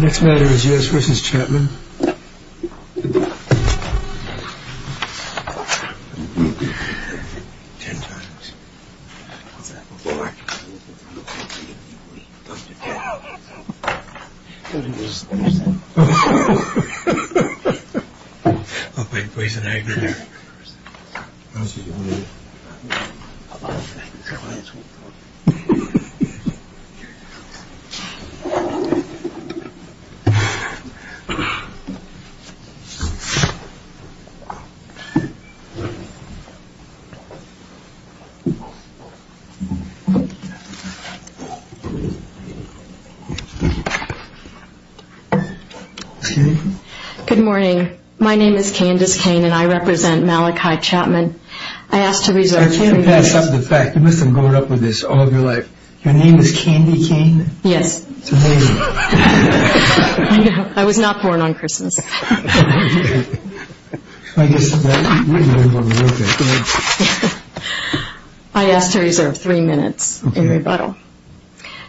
Next matter is U.S. vs. Chapman. Good morning. My name is Candace Kane and I represent Malachi Chapman. I ask to reserve three minutes in rebuttal.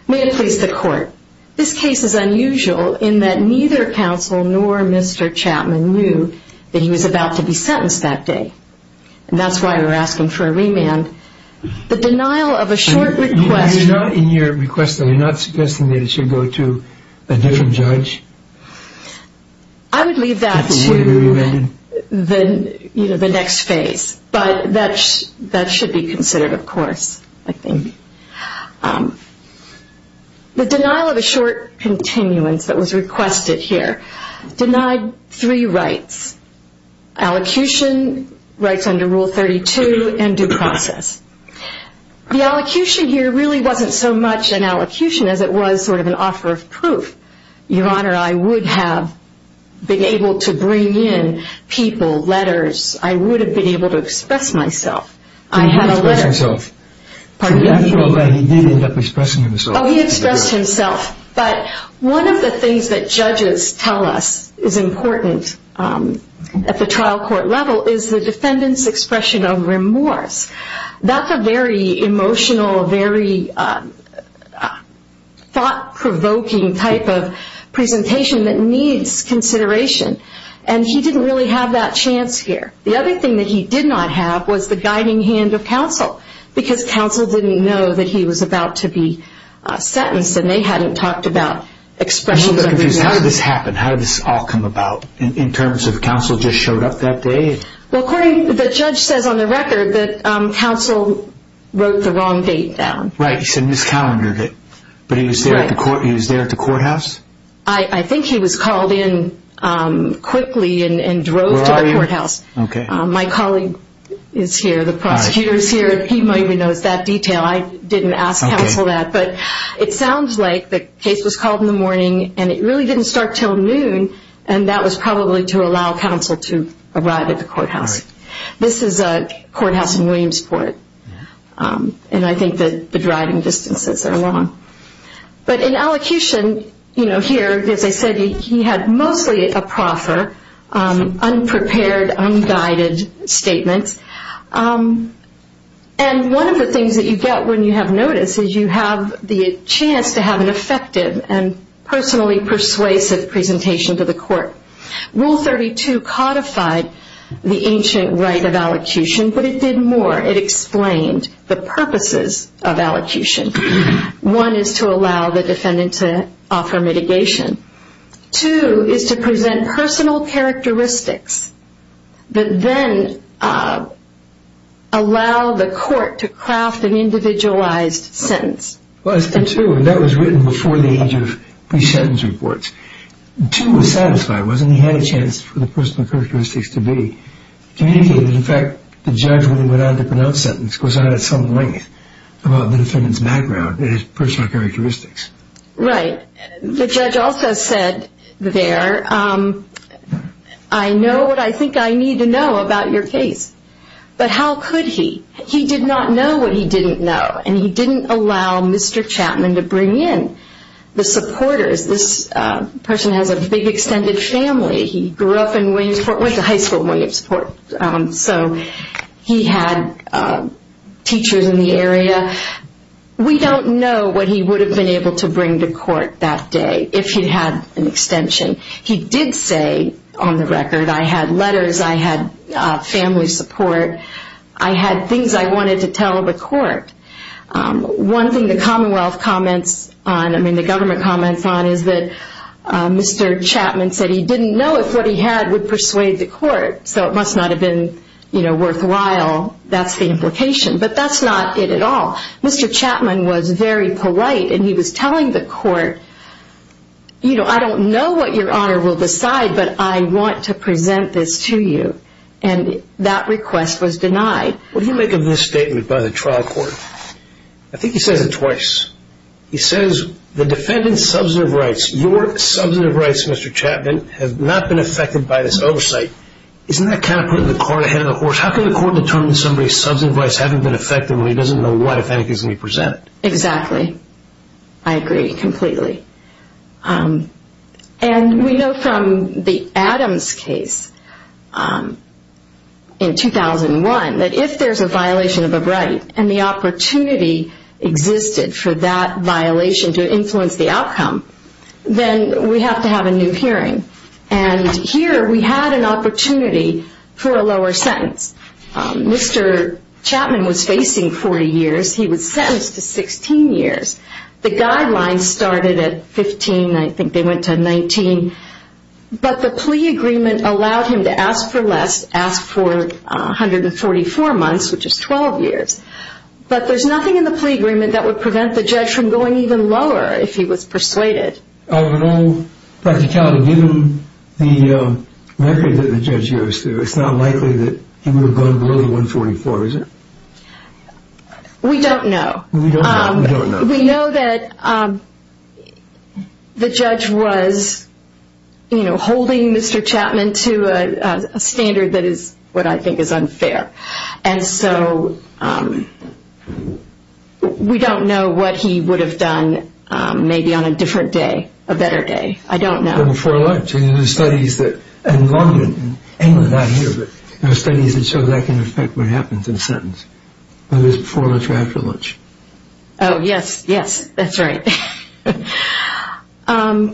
May it please the court, this case is unusual in that neither counsel nor Mr. Chapman knew that he was about to be sentenced that day. And that's why we're asking for a remand. The denial of a short request. You're not suggesting that it should go to a different judge? I would leave that to the next phase. But that should be considered of course. The denial of a short continuance that was requested here denied three rights. Allocution, rights was an offer of proof. I would have been able to bring in people, letters, I would have been able to express myself. One of the things that judges tell us is important at a very emotional, very thought provoking type of presentation that needs consideration. And he didn't really have that chance here. The other thing that he did not have was the guiding hand of counsel. Because counsel didn't know that he was about to be sentenced and they hadn't talked about expressions of remand. How did this happen? How did this all come about? In terms of counsel just showed up that day? Well according to the judge says on the record that counsel wrote the wrong date down. Right, he said miscalendered it. But he was there at the courthouse? I think he was called in quickly and drove to the courthouse. My colleague is here, the prosecutor is here, he maybe knows that detail. I didn't ask counsel that. But it sounds like the case was called in the morning and it really didn't start until noon and that was probably to allow counsel to arrive at the courthouse. This is a courthouse in Williamsport and I think that the driving distances are long. But in elocution here, as I said, he had mostly a proffer, unprepared, unguided statements. And one of the things that you get when you have notice is you have the chance to have an effective and personally persuasive presentation to the court. Rule 32 codified the ancient right of elocution but it did more. It explained the purposes of elocution. One is to allow the defendant to offer mitigation. Two is to present personal characteristics that then allow the court to craft an individualized sentence. That was written before the age of pre-sentence reports. Two was satisfied. He had a chance for the personal characteristics to be communicated. In fact, the judge went on to pronounce sentence because I had some length about the defendant's background and his personal characteristics. Right. The judge also said there, I know what I think I need to know about your case. But how could he? He did not know what he didn't know. And he didn't allow Mr. Chapman to bring in the supporters. This person has a big extended family. He grew up in Williamsport, went to high school in Williamsport. So he had teachers in the area. We don't know what he would have been able to bring to court that day if he had an extension. He did say I had letters. I had family support. I had things I wanted to tell the court. One thing the Commonwealth comments on, I mean the government comments on is that Mr. Chapman said he didn't know if what he had would persuade the court. So it must not have been worthwhile. That's the implication. But that's not it at all. Mr. Chapman was very polite and he was telling the court, you know, I don't know what your honor will decide but I want to present this to you. And that request was denied. What do you make of this statement by the trial court? I think he says it twice. He says the defendant's substantive rights, your substantive rights Mr. Chapman have not been affected by this oversight. Isn't that kind of putting the cart ahead of the horse? How can the court determine somebody's substantive rights haven't been affected when he doesn't know what if anything's going to be presented? Exactly. I agree completely. And we know from the Adams case in 2001 that if there's a violation of a right and the opportunity existed for that violation to influence the outcome, then we have to have a new hearing. And here we had an opportunity for a lower sentence. Mr. Chapman was facing 40 years. He was sentenced to 16 years. The guidelines started at 15. I think they went to 19. But the plea agreement allowed him to ask for less, ask for 144 months, which is 12 years. But there's nothing in the plea agreement that would prevent the judge from going even lower if he was persuaded. In all practicality, given the record that the judge gave you, it's not likely that he would have gone below 144, is it? We don't know. We know that the judge was holding Mr. Chapman to a standard that I think is unfair. And so we don't know what he would have done maybe on a different day, a better day. I don't know that here, but there are studies that show that can affect what happens in a sentence, whether it's before lunch or after lunch. Oh, yes, yes, that's right. What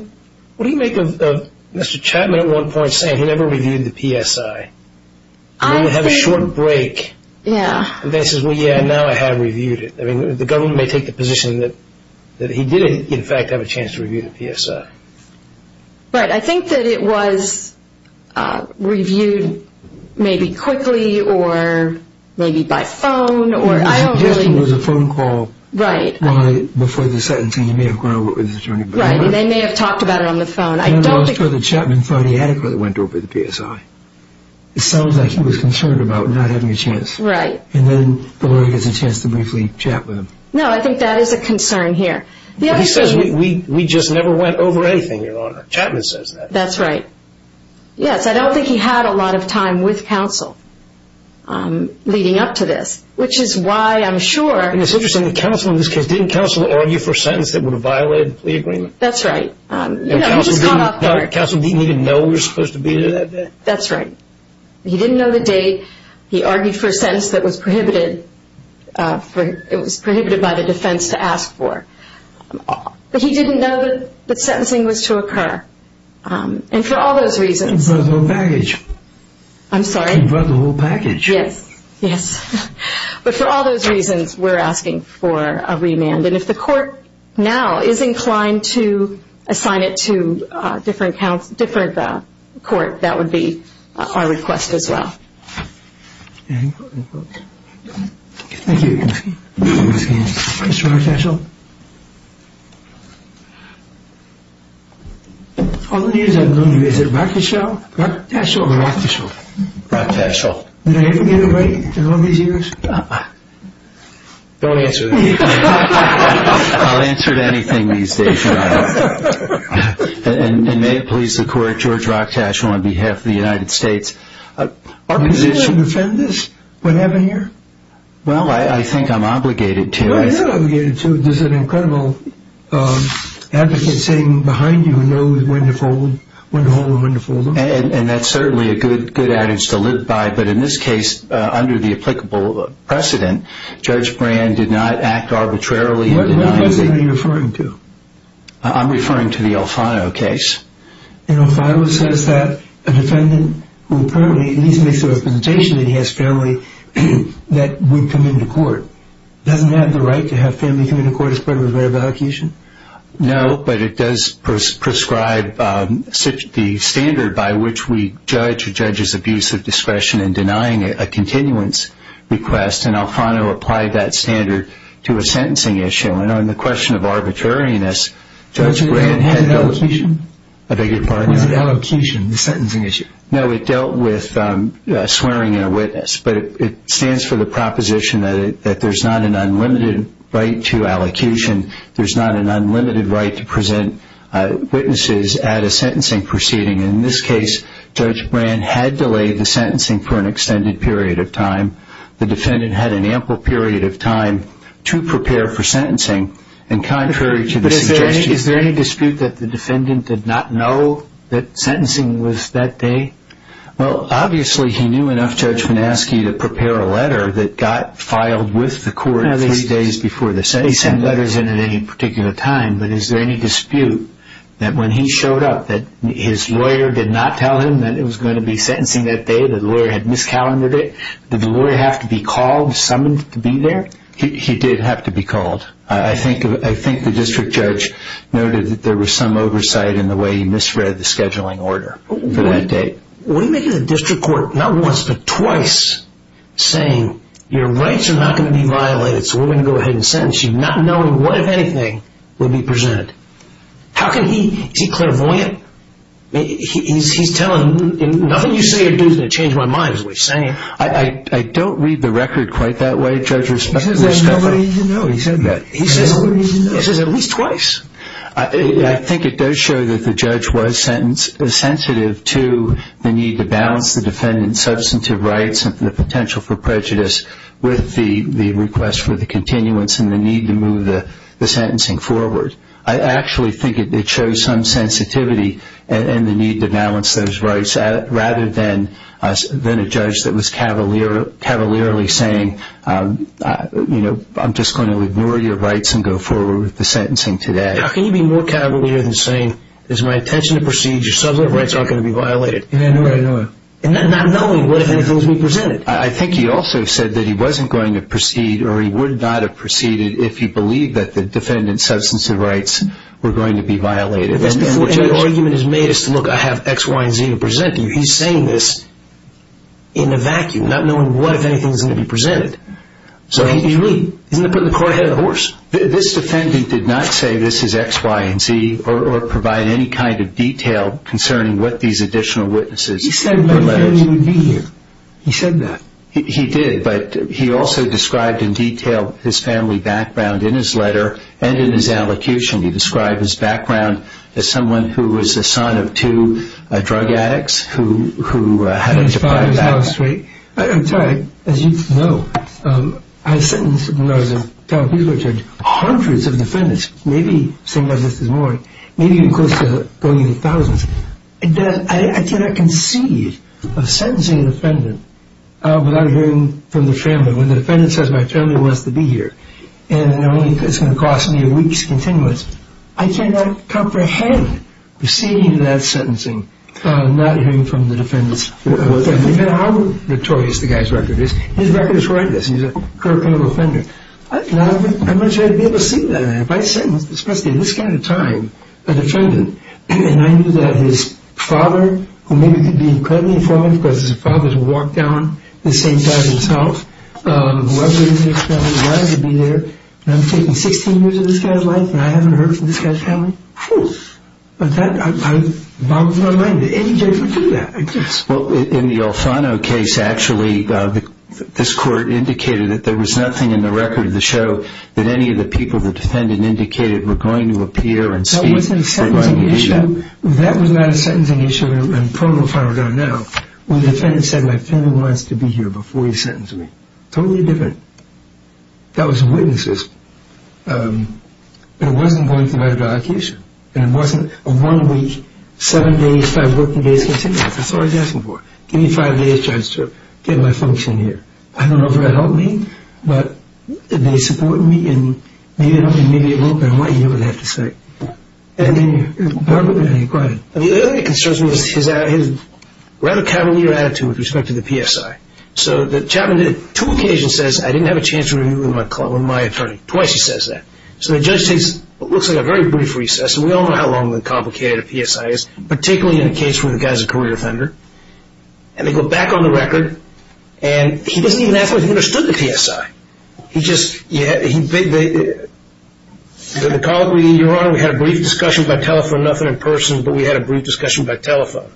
do you make of Mr. Chapman at one point saying he never reviewed the PSI? When you have a short break, and then he says, well, yeah, now I have reviewed it. The government may take the position that he did, in fact, have a chance to review the PSI. Right, I think that it was reviewed maybe quickly or maybe by phone or I don't really know. The suggestion was a phone call before the sentencing. He may have gone over it with his attorney. Right, and they may have talked about it on the phone. I don't think... No, no, I was told that Chapman thought he adequately went over the PSI. It sounds like he was concerned about not having a chance. Right. And then the lawyer gets a chance to briefly chat with him. No, I think that is a concern here. He says we just never went over anything, Your Honor. Chapman says that. That's right. Yes, I don't think he had a lot of time with counsel leading up to this, which is why I'm sure... And it's interesting, the counsel in this case, didn't counsel argue for a sentence that would have violated the plea agreement? That's right. And counsel didn't even know we were supposed to be there that day? That's right. He didn't know the sentence that was prohibited by the defense to ask for. But he didn't know that sentencing was to occur. And for all those reasons... He brought the whole package. I'm sorry? He brought the whole package. Yes, yes. But for all those reasons, we're asking for a remand. And if the court now is inclined to assign it to a different court, that would be our request as well. Thank you. Mr. Rochtaschel? All the years I've known you, is it Rochtaschel or Rochtaschel? Rochtaschel. Did I ever get it right in all these years? Don't answer that. I'll answer to anything these days, Your Honor. And may it please the court, George Brand is a defendant in the United States. Is he a defendant? What happened here? Well, I think I'm obligated to. You are obligated to. There's an incredible advocate sitting behind you who knows when to hold him and when to fold him. And that's certainly a good adage to live by. But in this case, under the applicable precedent, Judge Brand did not act arbitrarily in denying the... What precedent are you referring to? I'm referring to the Alfano case. And Alfano says that a defendant who apparently, at least makes the representation that he has family, that would come into court, doesn't have the right to have family come into court as part of a variable accusation? No, but it does prescribe the standard by which we judge a judge's abuse of discretion in denying a continuance request. And Alfano applied that standard to a sentencing issue. And on the question of arbitrariness, Judge Brand had... Was it allocation? I beg your pardon? Was it allocation, the sentencing issue? No, it dealt with swearing in a witness. But it stands for the proposition that there's not an unlimited right to allocation. There's not an unlimited right to present witnesses at a sentencing proceeding. In this case, Judge Brand had delayed the sentencing for an extended period of time. The defendant had an ample period of time to prepare for the sentencing. Is there any dispute that the defendant did not know that sentencing was that day? Well, obviously he knew enough, Judge Manaski, to prepare a letter that got filed with the court three days before the sentencing. They send letters in at any particular time, but is there any dispute that when he showed up, that his lawyer did not tell him that it was going to be sentencing that day, that the lawyer had miscalendered it? Did the lawyer have to be called, summoned to be there? He did have to be called. I think the district judge noted that there was some oversight in the way he misread the scheduling order for that date. What do you make of the district court, not once, but twice, saying your rights are not going to be violated, so we're going to go ahead and sentence you, not knowing what, if anything, would be presented? Is he clairvoyant? He's telling him, nothing you say or do is going to change my mind, is what he's saying. I don't read the record quite that way, Judge. He says there's nobody to know. He says at least twice. I think it does show that the judge was sensitive to the need to balance the defendant's substantive rights and the potential for prejudice with the request for the continuance and the need to move the sentencing forward. I actually think it shows some sensitivity and the need to balance those rights, rather than a judge that was cavalierly saying, I'm just going to ignore your rights and go forward with the sentencing today. How can you be more cavalier than saying, it's my intention to proceed, your substantive rights aren't going to be violated? Not knowing what, if anything, would be presented. I think he also said that he wasn't going to proceed, or he would not have proceeded, if he believed that the defendant's substantive rights were going to be violated. That's before any argument is made as to, look, I have X, Y, and Z to present to you. He's saying this in a vacuum, not knowing what, if anything, is going to be presented. Isn't that putting the cart ahead of the horse? This defendant did not say, this is X, Y, and Z, or provide any kind of detail concerning what these additional witnesses... He said he would be here. He said that. He did, but he also described in detail his family background in his letter, and in his allocution. He described his background as someone who was the son of two drug addicts, who had a deprived background. I'm sorry, as you know, I sentenced, when I was in town, hundreds of defendants, maybe saying this this morning, maybe even close to going into thousands. I cannot concede the possibility of sentencing a defendant without hearing from the family. When the defendant says, my family wants to be here, and it's going to cost me a week's continuance, I cannot comprehend receiving that sentencing, not hearing from the defendants. No matter how notorious the guy's record is. His record is horrendous. He's a criminal offender. I imagine I'd be able to see that. If I sentenced, especially at this kind of time, a defendant, and I knew that his father, who maybe could be incredibly informative, because his father has walked down the same side of this house, who I've heard of in his family, would be there, and I'm taking 16 years of this guy's life, and I haven't heard from this guy's family? But that boggles my mind. Did any judge ever do that? In the Alfano case, actually, this court indicated that there was nothing in the record of the show that any of the people the defendant indicated were going to appear and speak. That wasn't a sentencing issue. That was not a sentencing issue in the protofile we're on now, when the defendant said, my family wants to be here before you sentence me. Totally different. That was witnesses. It wasn't going to the right allocation, and it wasn't a one week, seven days, five working days continuance. That's all I'm asking for. Give me five days, judge, to get my function here. I don't know if that helped me, but they supported me, and maybe it will, but I want you to know what I have to say. The other thing that concerns me is his rather cavalier attitude with respect to the PSI. So the chaplain on two occasions says, I didn't have a chance to review with my attorney. Twice he says that. So the judge takes what looks like a very brief recess, and we all know how long and complicated a PSI is, particularly in a case where the guy's a career offender, and they go back on the record, and he doesn't even ask whether he understood the PSI. He says, your honor, we had a brief discussion by telephone, nothing in person, but we had a brief discussion by telephone.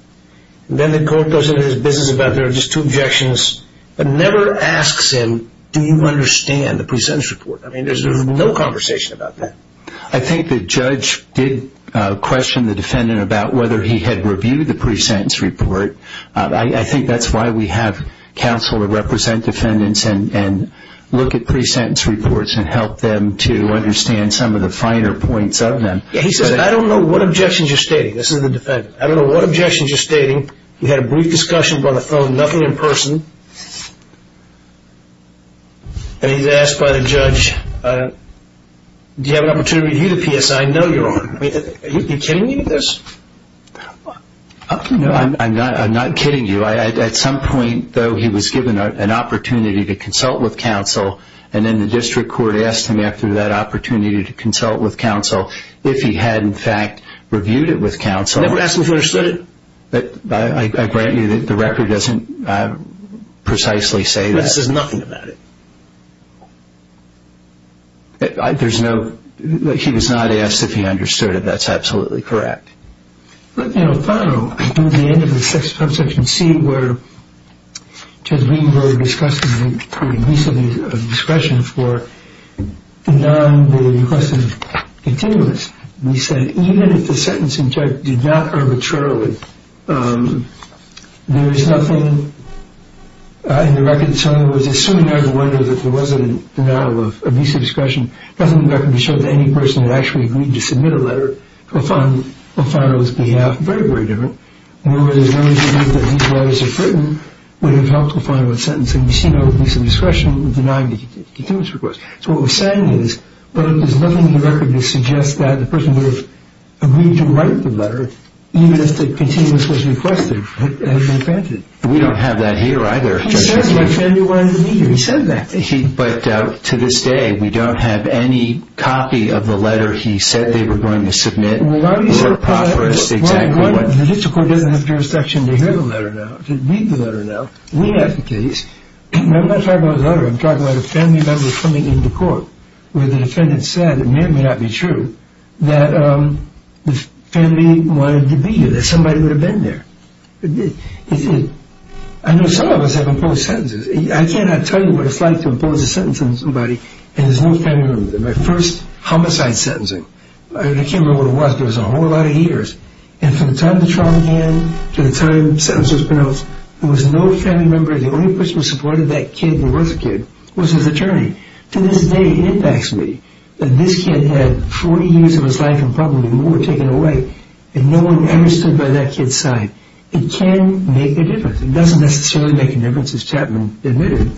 Then the court goes into his business about, there are just two objections, but never asks him, do you understand the pre-sentence report? I mean, there's no conversation about that. I think the judge did question the defendant about whether he had reviewed the pre-sentence report. I think that's why we have counsel to represent defendants and look at pre-sentence reports and help them to understand some of the finer points of them. He says, I don't know what objections you're stating. This is the defendant. I don't know what objections you're stating. We had a brief discussion by the phone, nothing in person. And he's asked by the judge, do you have an opportunity to review the PSI? No, your honor. Are you kidding me? I'm not kidding you. At some point, though, he was given an opportunity to consult with counsel. The district court asked him after that opportunity to consult with counsel if he had, in fact, reviewed it with counsel. Never asked if he understood it? I grant you that the record doesn't precisely say this. It says nothing about it. There's no, he was not asked if he understood it. That's absolutely correct. At the end of section C, where Judge Greenberg discussed the use of discretion for non-requested continuance, he said, even if the sentencing judge did not arbitrarily, there is nothing in the record. So he was assuming out of wonder that there was a denial of visa discretion. Nothing in the record showed that any person had actually agreed to submit a letter on Fano's behalf. Very, very different. Where there's no reason that these letters are written would have helped to find a sentence. And you see no visa discretion denying the continuance request. So what we're saying is, there's nothing in the record that suggests that the person would have agreed to write the letter, even if the continuance was requested and granted. We don't have that here either. He said that. But to this day, we don't have any copy of the letter he said they were going to submit. The district court doesn't have jurisdiction to hear the letter now, to read the letter now. We have the case. I'm not talking about the letter, I'm talking about a family member coming into court where the defendant said, and it may or may not be true, that the family wanted to be here, that somebody would have been there. He said, I know some of us have imposed sentences. I cannot tell you what it's like to impose a sentence on somebody and there's no family member there. My first homicide sentencing, I can't remember what it was, but it was a whole lot of years. And from the time the trial began to the time the sentence was pronounced, there was no family member there. The only person who supported that kid and was a kid was his attorney. To this day, it impacts me that this kid had 40 years of his life in public and more taken away, and no one ever stood by that kid's side. It can make a difference. It doesn't necessarily make a difference, as Chapman admitted,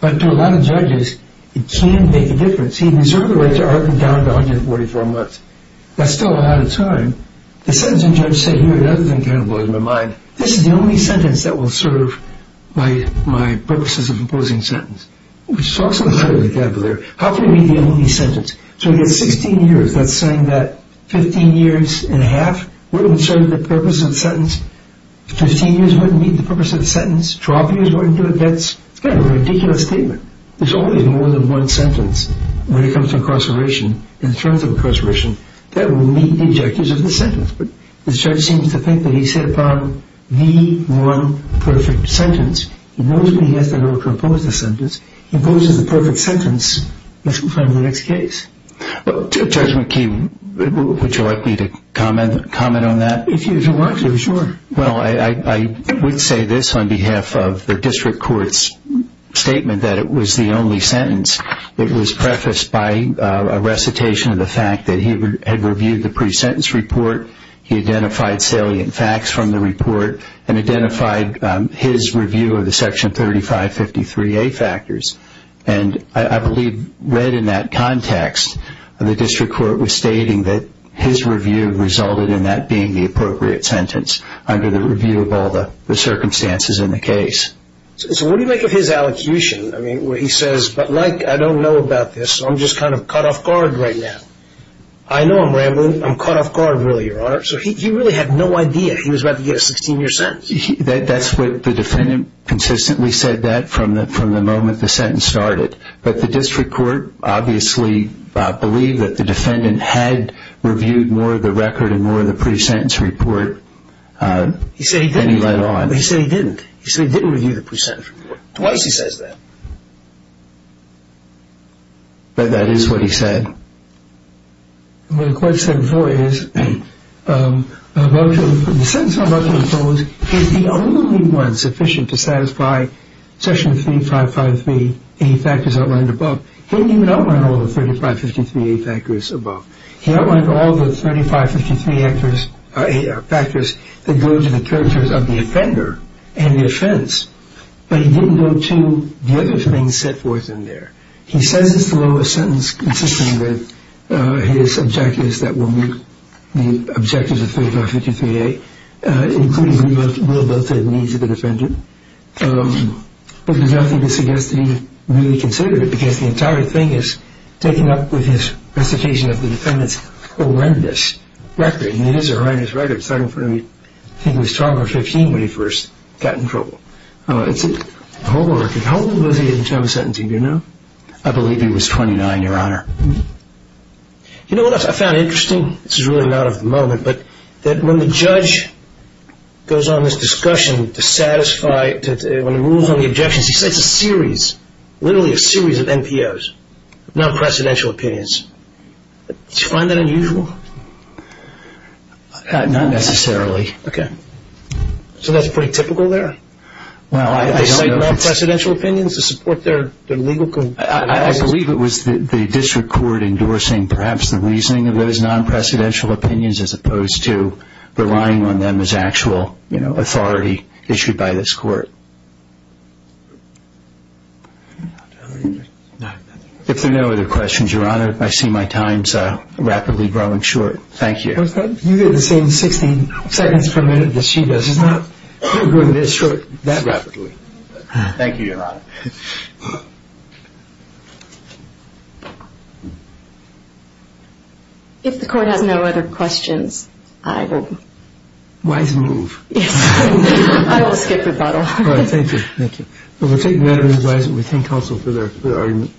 but to a lot of judges, it can make a difference. He deserved the right to arson down to 144 months. That's still a lot of time. The sentencing judge said, here, that doesn't kind of blow my mind. This is the only sentence that will serve my purposes of imposing sentence. Which talks a lot of vocabulary. How can it be the only sentence? So he has 16 years. That's saying that 15 years and a half wouldn't serve the purpose of the sentence. 15 years wouldn't meet the purpose of the sentence. 12 years wouldn't do it. That's kind of a ridiculous statement. There's only more than one sentence when it comes to incarceration, in terms of incarceration, that will meet the objectives of the sentence. But the judge seems to think that he's set upon the one perfect sentence. He knows what he has to do to impose the sentence. If he imposes the perfect sentence, let's move on to the next case. Judge McKee, would you like me to comment on that? If you want to, sure. Well, I would say this on behalf of the district court's statement that it was the only sentence. It was prefaced by a recitation of the fact that he had reviewed the pre-sentence report. He identified salient facts from the report and identified his review of the Section 3553A factors. And I believe, read in that context, the district court was stating that his review resulted in that being the appropriate sentence under the review of all the circumstances in the case. So what do you make of his allocution? He says, but, like, I don't know about this. I'm just kind of caught off guard right now. I know I'm rambling. I'm caught off guard, really, Your Honor. So he really had no idea. He was about to get a 16-year sentence. That's what the defendant consistently said that from the moment the sentence started. But the district court obviously believed that the defendant had reviewed more of the record and more of the pre-sentence report than he let on. He said he didn't. He said he didn't review the pre-sentence report. Twice he says that. But that is what he said. What the court said before is, the sentence I'm about to impose is the only one sufficient to satisfy Section 3553A factors outlined above. He didn't even outline all the 3553A factors above. He outlined all the 3553A factors that go to the characters of the offender and the offense. But he didn't go to the other things set forth in there. He says it's the lowest sentence, insisting that his objectives that will meet the objectives of 3553A, including the willability and needs of the defendant. But there's nothing to suggest that he really considered it because the entire thing is taken up with his recitation of the defendant's horrendous record. And it is a horrendous record. It started in front of me, I think it was 12 or 15 when he first got in trouble. It's a horrible record. How old was he at the time of sentencing, do you know? I believe he was 29, Your Honor. You know what else I found interesting? This is really not of the moment, but when the judge goes on this discussion to satisfy, when he moves on the objections, he cites a series, literally a series of NPOs, non-precedential opinions. Do you find that unusual? Not necessarily. Okay. So that's pretty typical there? Well, I don't know. They cite non-precedential opinions to support their legal conditions? I believe it was the district court endorsing perhaps the reasoning of those non-precedential opinions as opposed to relying on them as actual authority issued by this court. If there are no other questions, Your Honor, I see my time is rapidly growing short. Thank you. You get the same 16 seconds per minute that she does. She's not growing this short that rapidly. Thank you, Your Honor. If the court has no other questions, I will... Weiss, move. I will skip rebuttal. Thank you. Thank you. We'll take the matter in Weiss' name. We thank counsel for their argument.